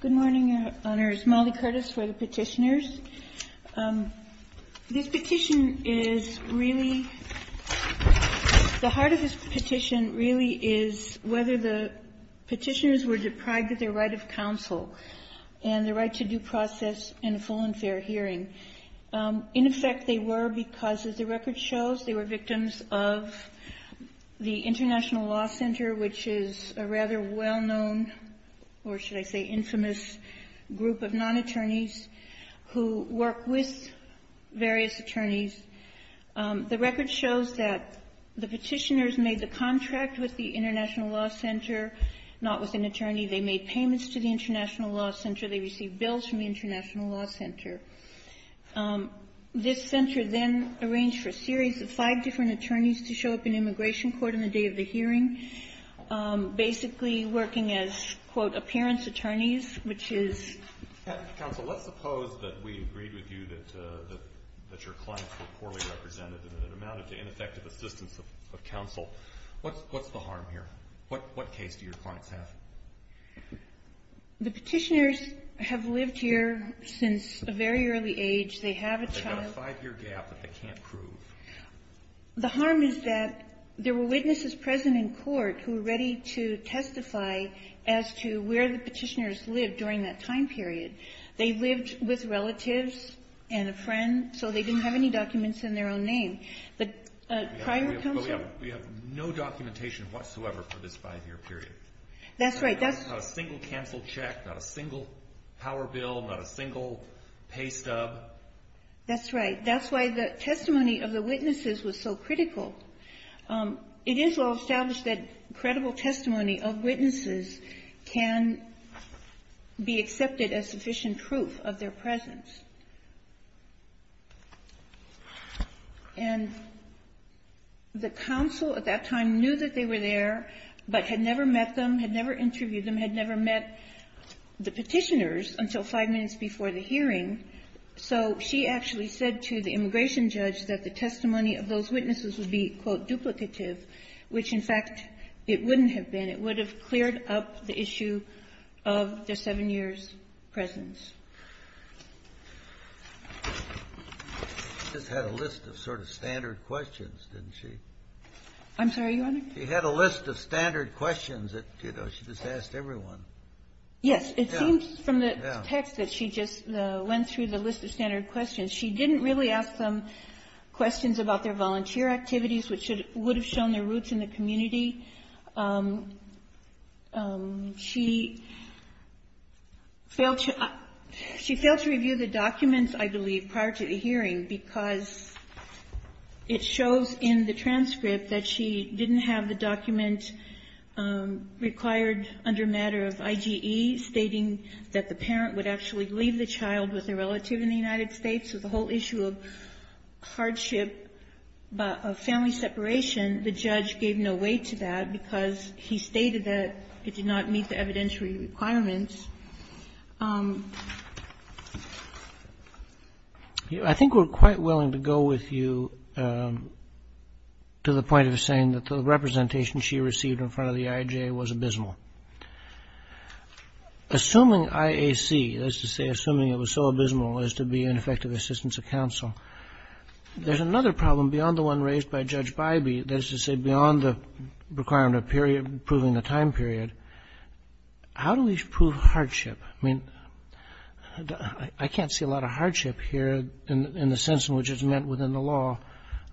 Good morning, Your Honors. Molly Curtis for the Petitioners. This petition is really the heart of this petition really is whether the petitioners were deprived of their right of counsel and the right to due process in a full and fair hearing. In effect, they were because, as the record shows, they were victims of the International Law Center, which is a rather well-known, or should I say infamous, group of non-attorneys who work with various attorneys. The record shows that the petitioners made the contract with the International Law Center, not with an attorney. They made payments to the International Law Center. They received bills from the International Law Center. This center then arranged for a series of five different attorneys to show up in immigration court on the day of the hearing, basically working as, quote, appearance attorneys, which is — What case do your clients have? The petitioners have lived here since a very early age. They have a child. They've got a five-year gap that they can't prove. The harm is that there were witnesses present in court who were ready to testify as to where the petitioners lived during that time period. They lived with relatives and a friend, so they didn't have any documents in their own name. But prior counsel — But we have no documentation whatsoever for this five-year period. That's right. That's — Not a single canceled check, not a single power bill, not a single pay stub. That's right. That's why the testimony of the witnesses was so critical. It is well-established that credible testimony of witnesses can be accepted as sufficient proof of their presence. And the counsel at that time knew that they were there but had never met them, had never interviewed them, had never met the petitioners until five minutes before the hearing. So she actually said to the immigration judge that the testimony of those witnesses would be, quote, duplicative, which, in fact, it wouldn't have been. It would have cleared up the issue of their seven years' presence. She just had a list of sort of standard questions, didn't she? I'm sorry, Your Honor? She had a list of standard questions that, you know, she just asked everyone. Yes. Yeah. It seems from the text that she just went through the list of standard questions. She didn't really ask them questions about their volunteer activities, which would have shown their roots in the community. She failed to review the documents, I believe, prior to the hearing, because it shows in the transcript that she didn't have the document required under a matter of IGE stating that the parent would actually leave the child with a relative in the United States. So the whole issue of hardship, of family separation, the judge gave no weight to that because he stated that it did not meet the evidentiary requirements. I think we're quite willing to go with you to the point of saying that the representation she received in front of the IAJ was abysmal. Assuming IAC, that is to say, assuming it was so abysmal as to be an effective assistance of counsel, there's another problem beyond the one raised by Judge Bybee, that is to say, beyond the requirement of proving the time period. How do we prove hardship? I mean, I can't see a lot of hardship here in the sense in which it's meant within the law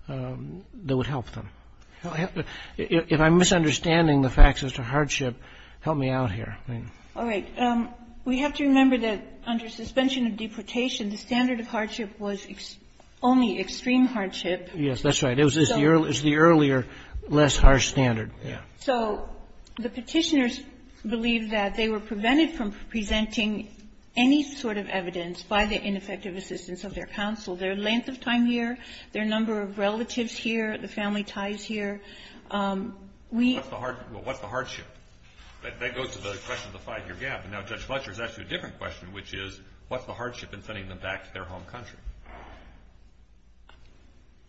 that would help them. If I'm misunderstanding the facts as to hardship, help me out here. All right. We have to remember that under suspension of deportation, the standard of hardship was only extreme hardship. Yes, that's right. It was the earlier, less harsh standard. So the Petitioners believe that they were prevented from presenting any sort of evidence by the ineffective assistance of their counsel, their length of time here, their number of relatives here, the family ties here. We — What's the hardship? That goes to the question of the five-year gap. And now Judge Fletcher has asked you a different question, which is what's the hardship in sending them back to their home country?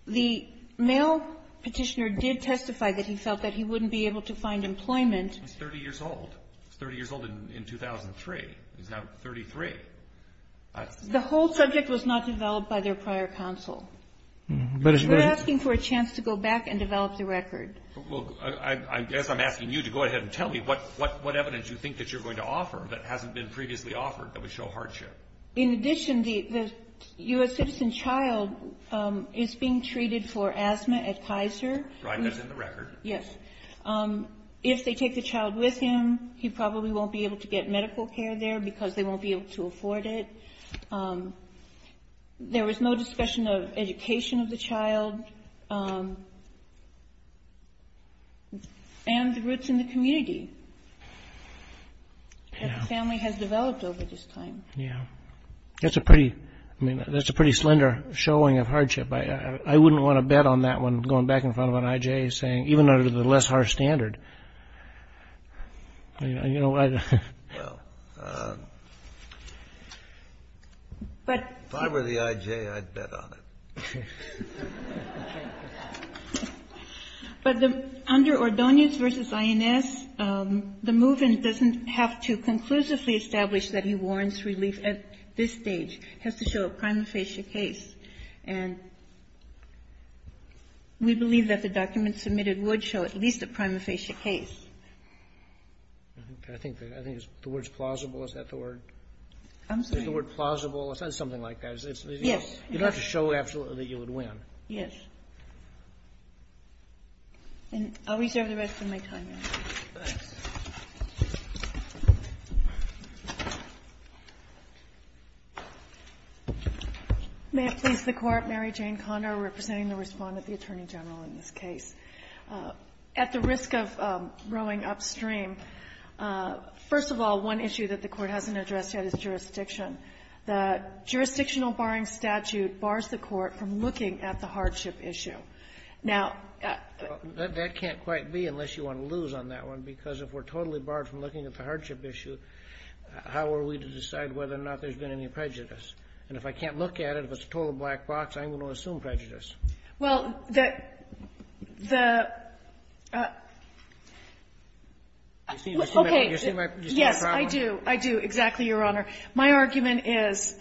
The male Petitioner did testify that he felt that he wouldn't be able to find employment. He's 30 years old. He's 30 years old in 2003. He's now 33. The whole subject was not developed by their prior counsel. We're asking for a chance to go back and develop the record. Well, I guess I'm asking you to go ahead and tell me what evidence you think that you're going to offer that hasn't been previously offered that would show hardship. In addition, the U.S. citizen child is being treated for asthma at Kaiser. Right. That's in the record. Yes. If they take the child with him, he probably won't be able to get medical care there because they won't be able to afford it. There was no discussion of education of the child and the roots in the community that the family has developed over this time. Yeah. That's a pretty slender showing of hardship. I wouldn't want to bet on that one going back in front of an IJ saying, Well, if I were the IJ, I'd bet on it. But under Ordonez v. INS, the movement doesn't have to conclusively establish that he warrants relief at this stage. It has to show a prima facie case. And we believe that the documents submitted would show at least a prima facie case. I think the word's plausible. Is that the word? I'm sorry. Is the word plausible? It's something like that. Yes. You don't have to show absolutely that you would win. Yes. And I'll reserve the rest of my time. May it please the Court. Mary Jane Condor representing the Respondent, the Attorney General, in this case. At the risk of rowing upstream, first of all, one issue that the Court hasn't addressed yet is jurisdiction. The jurisdictional barring statute bars the Court from looking at the hardship issue. Now ---- That can't quite be unless you want to lose on that one, because if we're totally barred from looking at the hardship issue, how are we to decide whether or not there's been any prejudice? And if I can't look at it, if it's a total black box, I'm going to assume prejudice. Well, the ---- Okay. You see my problem? Yes, I do. I do, exactly, Your Honor. My argument is,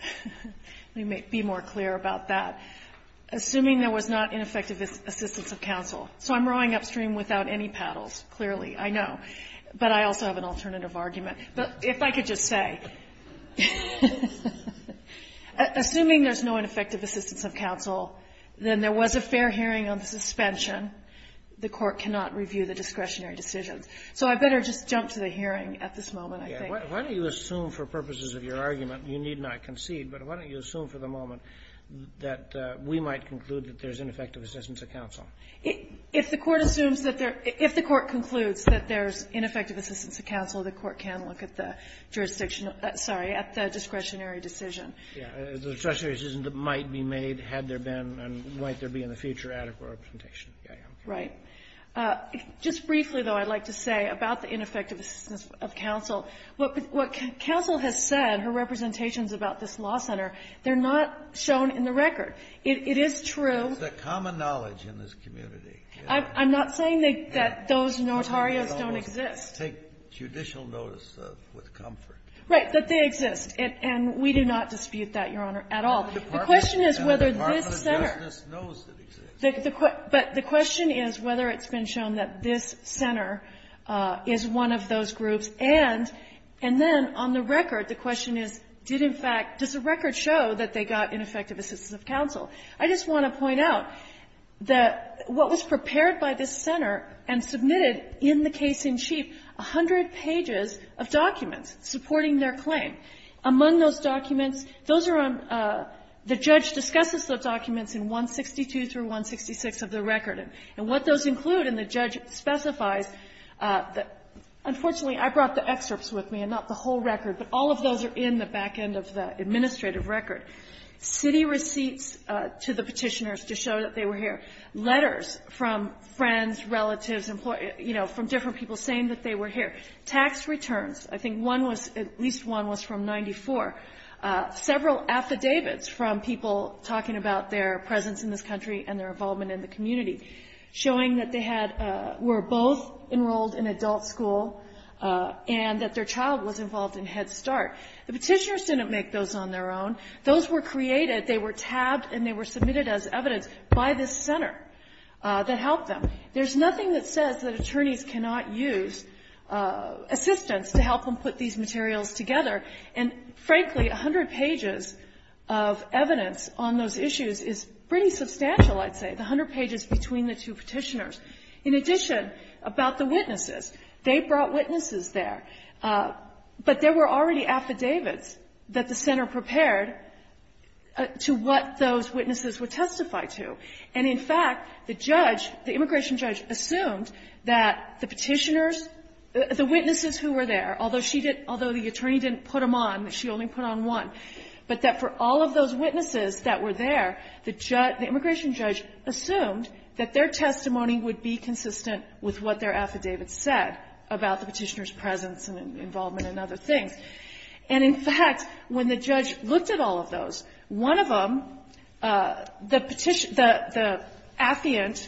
let me be more clear about that. Assuming there was not ineffective assistance of counsel. So I'm rowing upstream without any paddles, clearly, I know. But I also have an alternative argument. But if I could just say, assuming there's no ineffective assistance of counsel, then there was a fair hearing on the suspension. The Court cannot review the discretionary decisions. So I better just jump to the hearing at this moment, I think. Why don't you assume for purposes of your argument, you need not concede, but why might you conclude that there's ineffective assistance of counsel? If the Court assumes that there ---- if the Court concludes that there's ineffective assistance of counsel, the Court can look at the jurisdictional ---- sorry, at the discretionary decision. Yes. The discretionary decision that might be made had there been and might there be in the future adequate representation. Yes, Your Honor. Right. Just briefly, though, I'd like to say about the ineffective assistance of counsel, what counsel has said, her representations about this law center, they're not shown in the record. It is true ---- It's a common knowledge in this community. I'm not saying that those notarios don't exist. They almost take judicial notice of with comfort. Right. That they exist. And we do not dispute that, Your Honor, at all. The question is whether this center ---- The Department of Justice knows it exists. But the question is whether it's been shown that this center is one of those groups. And then on the record, the question is, did, in fact, does the record show that they got ineffective assistance of counsel? I just want to point out that what was prepared by this center and submitted in the case-in-chief, a hundred pages of documents supporting their claim. Among those documents, those are on the judge discusses the documents in 162 through 166 of the record. And what those include, and the judge specifies, unfortunately, I brought the excerpts with me and not the whole record, but all of those are in the back end of the administrative record. City receipts to the Petitioners to show that they were here. Letters from friends, relatives, employees, you know, from different people saying that they were here. Tax returns. I think one was, at least one was from 94. Several affidavits from people talking about their presence in this country and their involvement in the community, showing that they had, were both enrolled in adult school and that their child was involved in Head Start. The Petitioners didn't make those on their own. Those were created. They were tabbed and they were submitted as evidence by this center that helped them. There's nothing that says that attorneys cannot use assistance to help them put these materials together. And, frankly, a hundred pages of evidence on those issues is pretty substantial, I'd say, the hundred pages between the two Petitioners. In addition, about the witnesses, they brought witnesses there. But there were already affidavits that the center prepared to what those witnesses would testify to. And, in fact, the judge, the immigration judge, assumed that the Petitioners the witnesses who were there, although she didn't, although the attorney didn't put them on, she only put on one, but that for all of those witnesses that were there, the immigration judge assumed that their testimony would be consistent with what their affidavit said about the Petitioners' presence and involvement and other things. And, in fact, when the judge looked at all of those, one of them, the petition, the affiant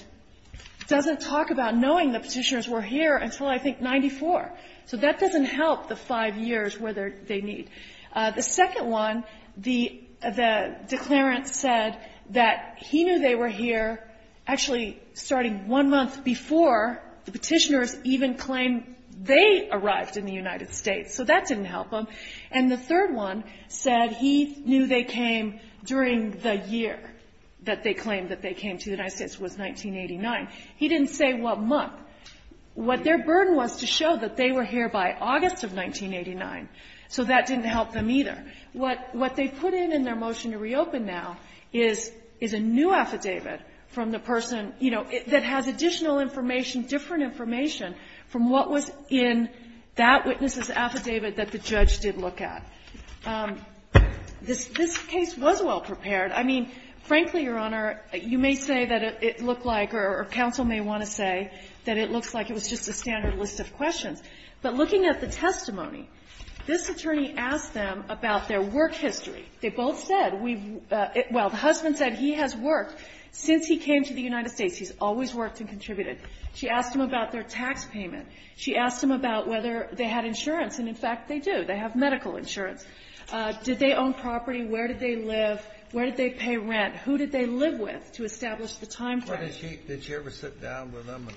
doesn't talk about knowing the Petitioners were here until, I think, 94. So that doesn't help the five years where they need. The second one, the declarant said that he knew they were here, actually starting one month before the Petitioners even claimed they arrived in the United States. So that didn't help them. And the third one said he knew they came during the year that they claimed that they came to the United States was 1989. He didn't say what month. What their burden was to show that they were here by August of 1989. So that didn't help them either. What they put in in their motion to reopen now is a new affidavit from the person, you know, that has additional information, different information from what was in that witness's affidavit that the judge did look at. This case was well-prepared. I mean, frankly, Your Honor, you may say that it looked like, or counsel may want to say that it looks like it was just a standard list of questions. But looking at the testimony, this attorney asked them about their work history. They both said, well, the husband said he has worked since he came to the United States. He's always worked and contributed. She asked him about their tax payment. She asked him about whether they had insurance. And, in fact, they do. They have medical insurance. Did they own property? Where did they live? Where did they pay rent? Who did they live with to establish the time frame? Kennedy. Did she ever sit down with them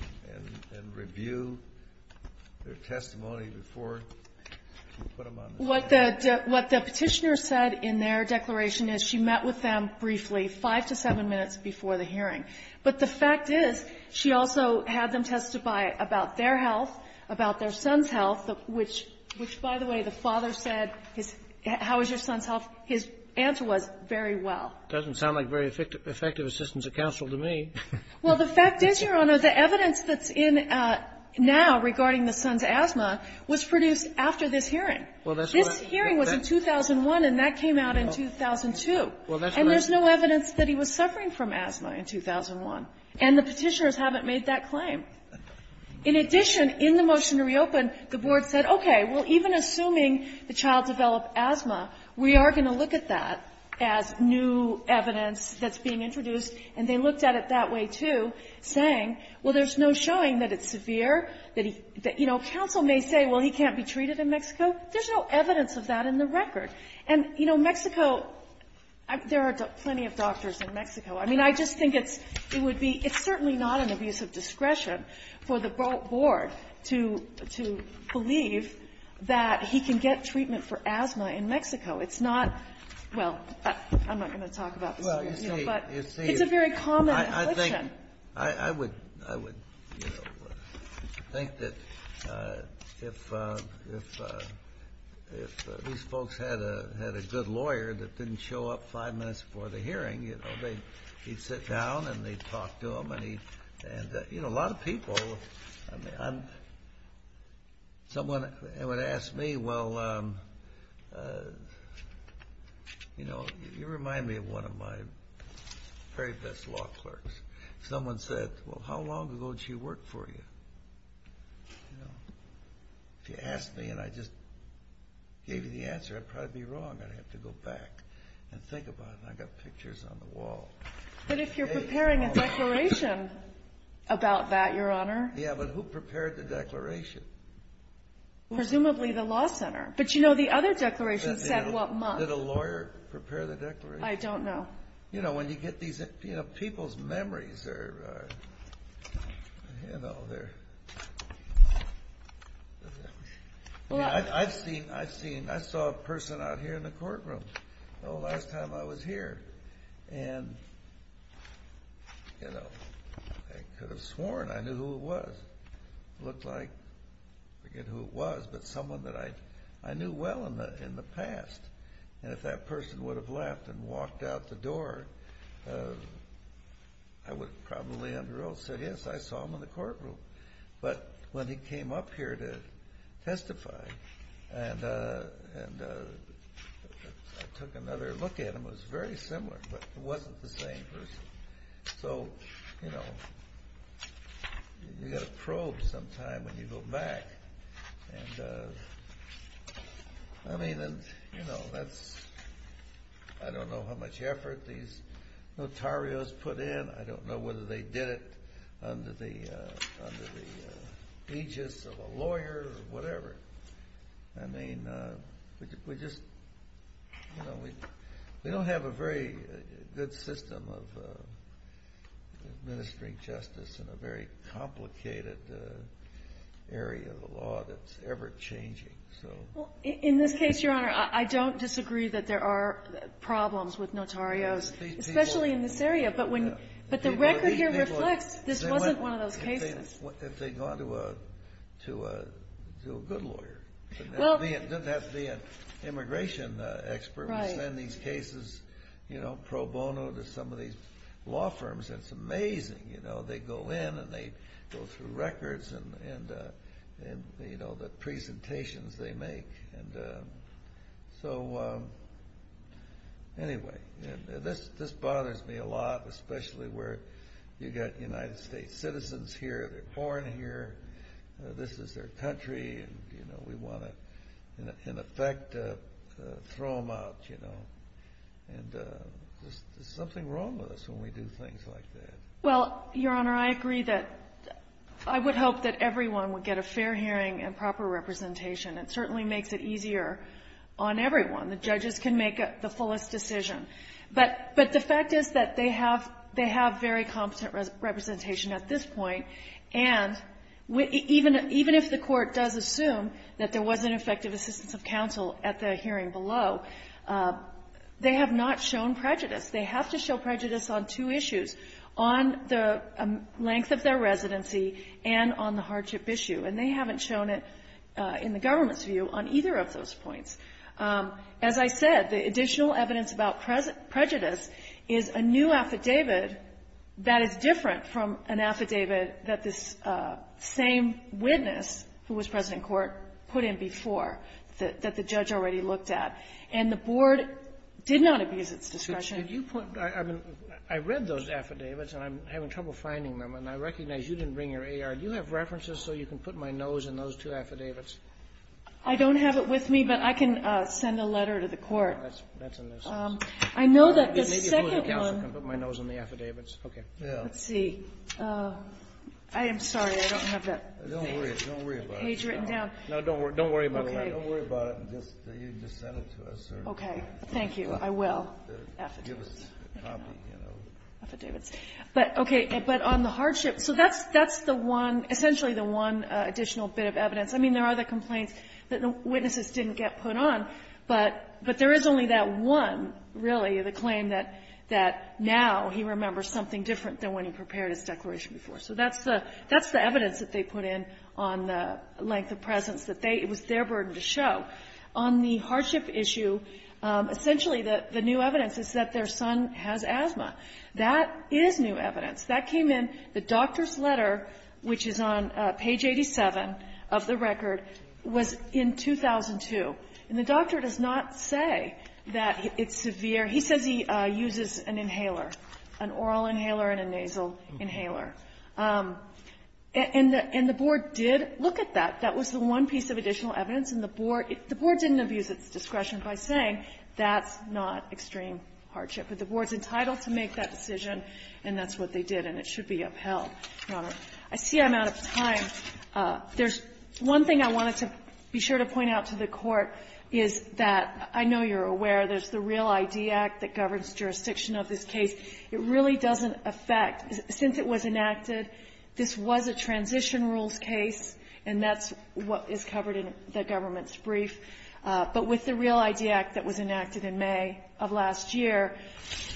and review their testimony before she put them on the stand? What the Petitioner said in their declaration is she met with them briefly, five to seven minutes before the hearing. But the fact is she also had them testify about their health, about their son's health, which, by the way, the father said, how is your son's health? His answer was, very well. It doesn't sound like very effective assistance of counsel to me. Well, the fact is, Your Honor, the evidence that's in now regarding the son's asthma was produced after this hearing. This hearing was in 2001, and that came out in 2002. And there's no evidence that he was suffering from asthma in 2001. And the Petitioners haven't made that claim. In addition, in the motion to reopen, the Board said, okay, well, even assuming the child developed asthma, we are going to look at that as new evidence that's being introduced. And they looked at it that way, too, saying, well, there's no showing that it's severe, that he — that, you know, counsel may say, well, he can't be treated in Mexico. There's no evidence of that in the record. And, you know, Mexico — there are plenty of doctors in Mexico. I mean, I just think it's — it would be — it's certainly not an abuse of discretion for the Board to — to believe that he can get treatment for asthma in Mexico. It's not — well, I'm not going to talk about this here, but it's a very common question. I would — I would, you know, think that if — if — if these folks had a — had a good lawyer that didn't show up five minutes before the hearing, you know, they — he'd sit down, and they'd talk to him, and he — and, you know, a lot of people — I mean, I'm — someone would ask me, well, you know, you remind me of one of my very best law clerks. Someone said, well, how long ago did she work for you? You know, if you asked me and I just gave you the answer, I'd probably be wrong. I'd have to go back and think about it. I've got pictures on the wall. But if you're preparing a declaration about that, Your Honor — Yeah, but who prepared the declaration? Presumably the law center. But, you know, the other declaration said what month. Did a lawyer prepare the declaration? I don't know. You know, when you get these — you know, people's memories are — you know, they're — I mean, I've seen — I've seen — I saw a person out here in the courtroom the last time I was here. And, you know, I could have sworn I knew who it was. Looked like — forget who it was, but someone that I — I knew well in the — in the past. And if that person would have left and walked out the door, I would probably, under oath, have said, yes, I saw him in the courtroom. But when he came up here to testify and I took another look at him, it was very similar, but it wasn't the same person. So, you know, you've got to probe sometime when you go back. And, I mean, you know, that's — I don't know how much effort these notarios put in. I don't know whether they did it under the aegis of a lawyer or whatever. I mean, we just — you know, we don't have a very good system of administering justice in a very complicated area of the law that's ever-changing. So — Well, in this case, Your Honor, I don't disagree that there are problems with notarios, especially in this area. But when — but the record here reflects this wasn't one of those cases. If they'd gone to a — to a — to a good lawyer. Well — It doesn't have to be an immigration expert. We send these cases, you know, pro bono to some of these law firms. It's amazing. You know, they go in and they go through records and, you know, the presentations they make. And so, anyway, this bothers me a lot, especially where you've got United States citizens here. They're born here. This is their country. And, you know, we want to, in effect, throw them out, you know. And there's something wrong with us when we do things like that. Well, Your Honor, I agree that — I would hope that everyone would get a fair hearing and proper representation. It certainly makes it easier on everyone. The judges can make the fullest decision. But — but the fact is that they have — they have very competent representation at this point. And even if the Court does assume that there was an effective assistance of counsel at the hearing below, they have not shown prejudice. They have to show prejudice on two issues, on the length of their residency and on the hardship issue. And they haven't shown it, in the government's view, on either of those points. As I said, the additional evidence about prejudice is a new affidavit that is different from an affidavit that this same witness, who was president of court, put in before, that the judge already looked at. And the Board did not abuse its discretion. Did you put — I mean, I read those affidavits, and I'm having trouble finding them. And I recognize you didn't bring your AR. Do you have references so you can put my nose in those two affidavits? I don't have it with me, but I can send a letter to the Court. That's — that's in this. I know that the second one — Maybe a board of counsel can put my nose in the affidavits. Okay. Yeah. Let's see. I am sorry. I don't have that page — Don't worry. Don't worry about it. — page written down. No, don't worry. Don't worry about it. Okay. Don't worry about it. Just — you just send it to us, or — Okay. Thank you. I will. Affidavits. Affidavits. But, okay. But on the hardship — so that's — that's the one — essentially the one additional bit of evidence. I mean, there are the complaints that the witnesses didn't get put on, but — but there is only that one, really, the claim that — that now he remembers something different than when he prepared his declaration before. So that's the — that's the evidence that they put in on the length of presence that they — it was their burden to show. On the hardship issue, essentially the — the new evidence is that their son has asthma. That is new evidence. That came in — the doctor's letter, which is on page 87 of the record, was in 2002. And the doctor does not say that it's severe. He says he uses an inhaler, an oral inhaler and a nasal inhaler. And the — and the board did look at that. That was the one piece of additional evidence. And the board — the board didn't abuse its discretion by saying that's not extreme hardship. But the board's entitled to make that decision, and that's what they did. And it should be upheld, Your Honor. I see I'm out of time. There's one thing I wanted to be sure to point out to the Court is that I know you're aware there's the REAL ID Act that governs jurisdiction of this case. It really doesn't affect — since it was enacted, this was a transition rules case, and that's what is covered in the government's brief. But with the REAL ID Act that was enacted in May of last year,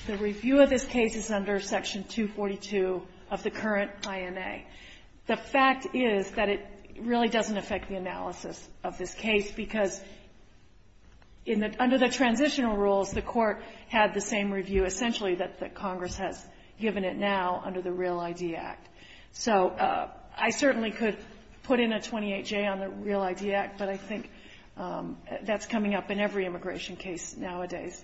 the review of this case is under Section 242 of the current INA. The fact is that it really doesn't affect the analysis of this case because in the — under the transitional rules, the Court had the same review, essentially, that the Congress has given it now under the REAL ID Act. So I certainly could put in a 28-J on the REAL ID Act, but I think that's coming up in every immigration case nowadays.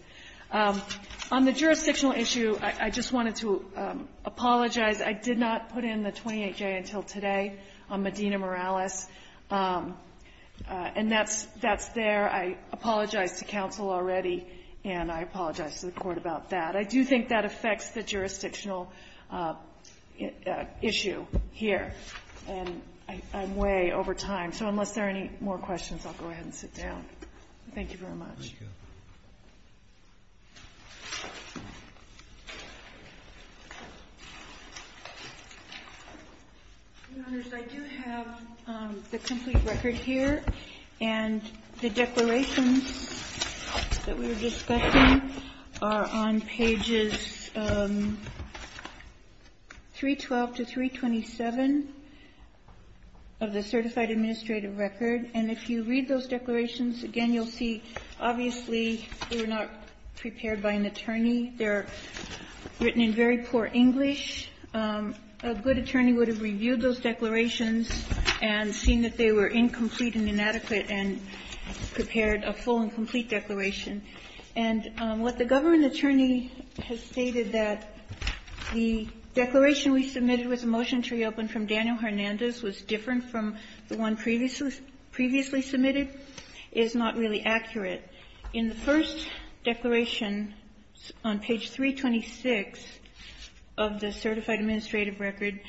On the jurisdictional issue, I just wanted to apologize. I did not put in the 28-J until today on Medina Morales. And that's — that's there. I apologized to counsel already, and I apologize to the Court about that. I do think that affects the jurisdictional issue here. And I'm way over time. So unless there are any more questions, I'll go ahead and sit down. Thank you very much. Thank you. Your Honors, I do have the complete record here. And the declarations that we were discussing are on pages 312 to 327 of the Certified Administrative Record. And if you read those declarations, again, you'll see, obviously, they were not prepared by an attorney. They're written in very poor English. A good attorney would have reviewed those declarations and seen that they were incomplete and inadequate and prepared a full and complete declaration. And what the government attorney has stated, that the declaration we submitted with a motion to reopen from Daniel Hernandez was different from the one previously submitted, is not really accurate. In the first declaration on page 326 of the Certified Administrative Record,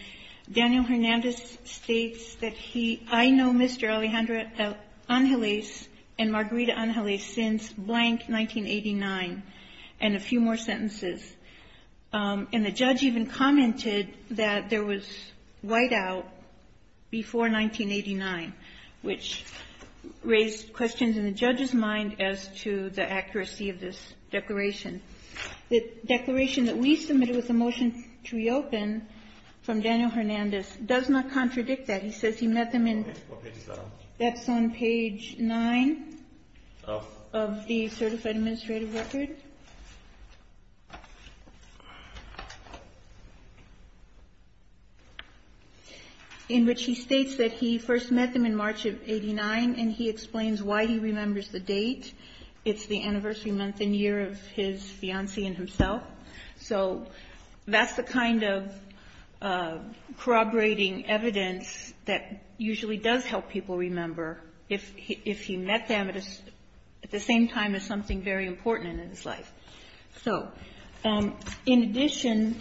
Daniel Hernandez states that he — I know Mr. Alejandra Angeles and Margarita Angeles since blank 1989, and a few more sentences. And the judge even commented that there was whiteout before 1989, which raised questions in the judge's mind as to the accuracy of this declaration. The declaration that we submitted with a motion to reopen from Daniel Hernandez does not contradict that. He says he met them in — What page is that on? That's on page 9 of the Certified Administrative Record. In which he states that he first met them in March of 89, and he explains why he remembers the date. It's the anniversary month and year of his fiancée and himself. So that's the kind of corroborating evidence that usually does help people remember if he met them at the same time as something very important in his life. So in addition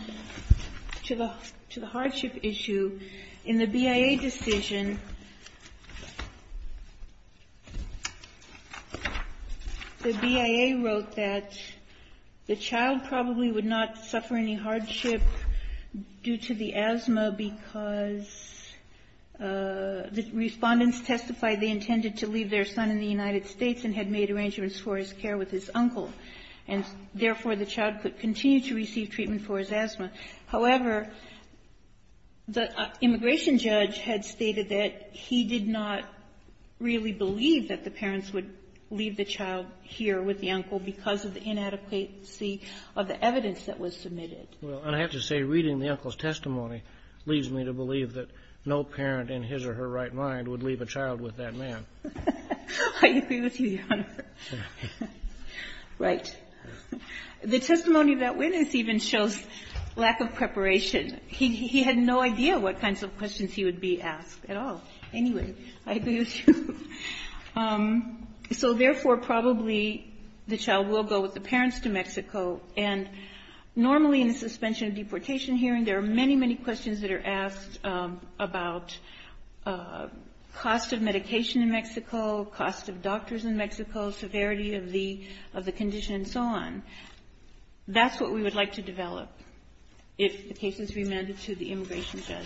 to the hardship issue, in the BIA decision, the BIA wrote that the child probably would not suffer any hardship due to the asthma because the respondents testified they intended to leave their son in the United States and had made arrangements for his care with his uncle. And therefore, the child could continue to receive treatment for his asthma. However, the immigration judge had stated that he did not really believe that the parents would leave the child here with the uncle because of the inadequacy of the evidence that was submitted. Well, and I have to say, reading the uncle's testimony leads me to believe that no parent in his or her right mind would leave a child with that man. I agree with you, Your Honor. Right. The testimony of that witness even shows lack of preparation. He had no idea what kinds of questions he would be asked at all. Anyway, I agree with you. So therefore, probably the child will go with the parents to Mexico, and normally in a suspension of deportation hearing, there are many, many questions that are asked about cost of medication in Mexico, cost of doctors in Mexico, severity of the condition, and so on. That's what we would like to develop if the case is remanded to the immigration judge.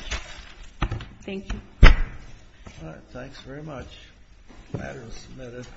Thank you. All right. Thanks very much. The matter is submitted.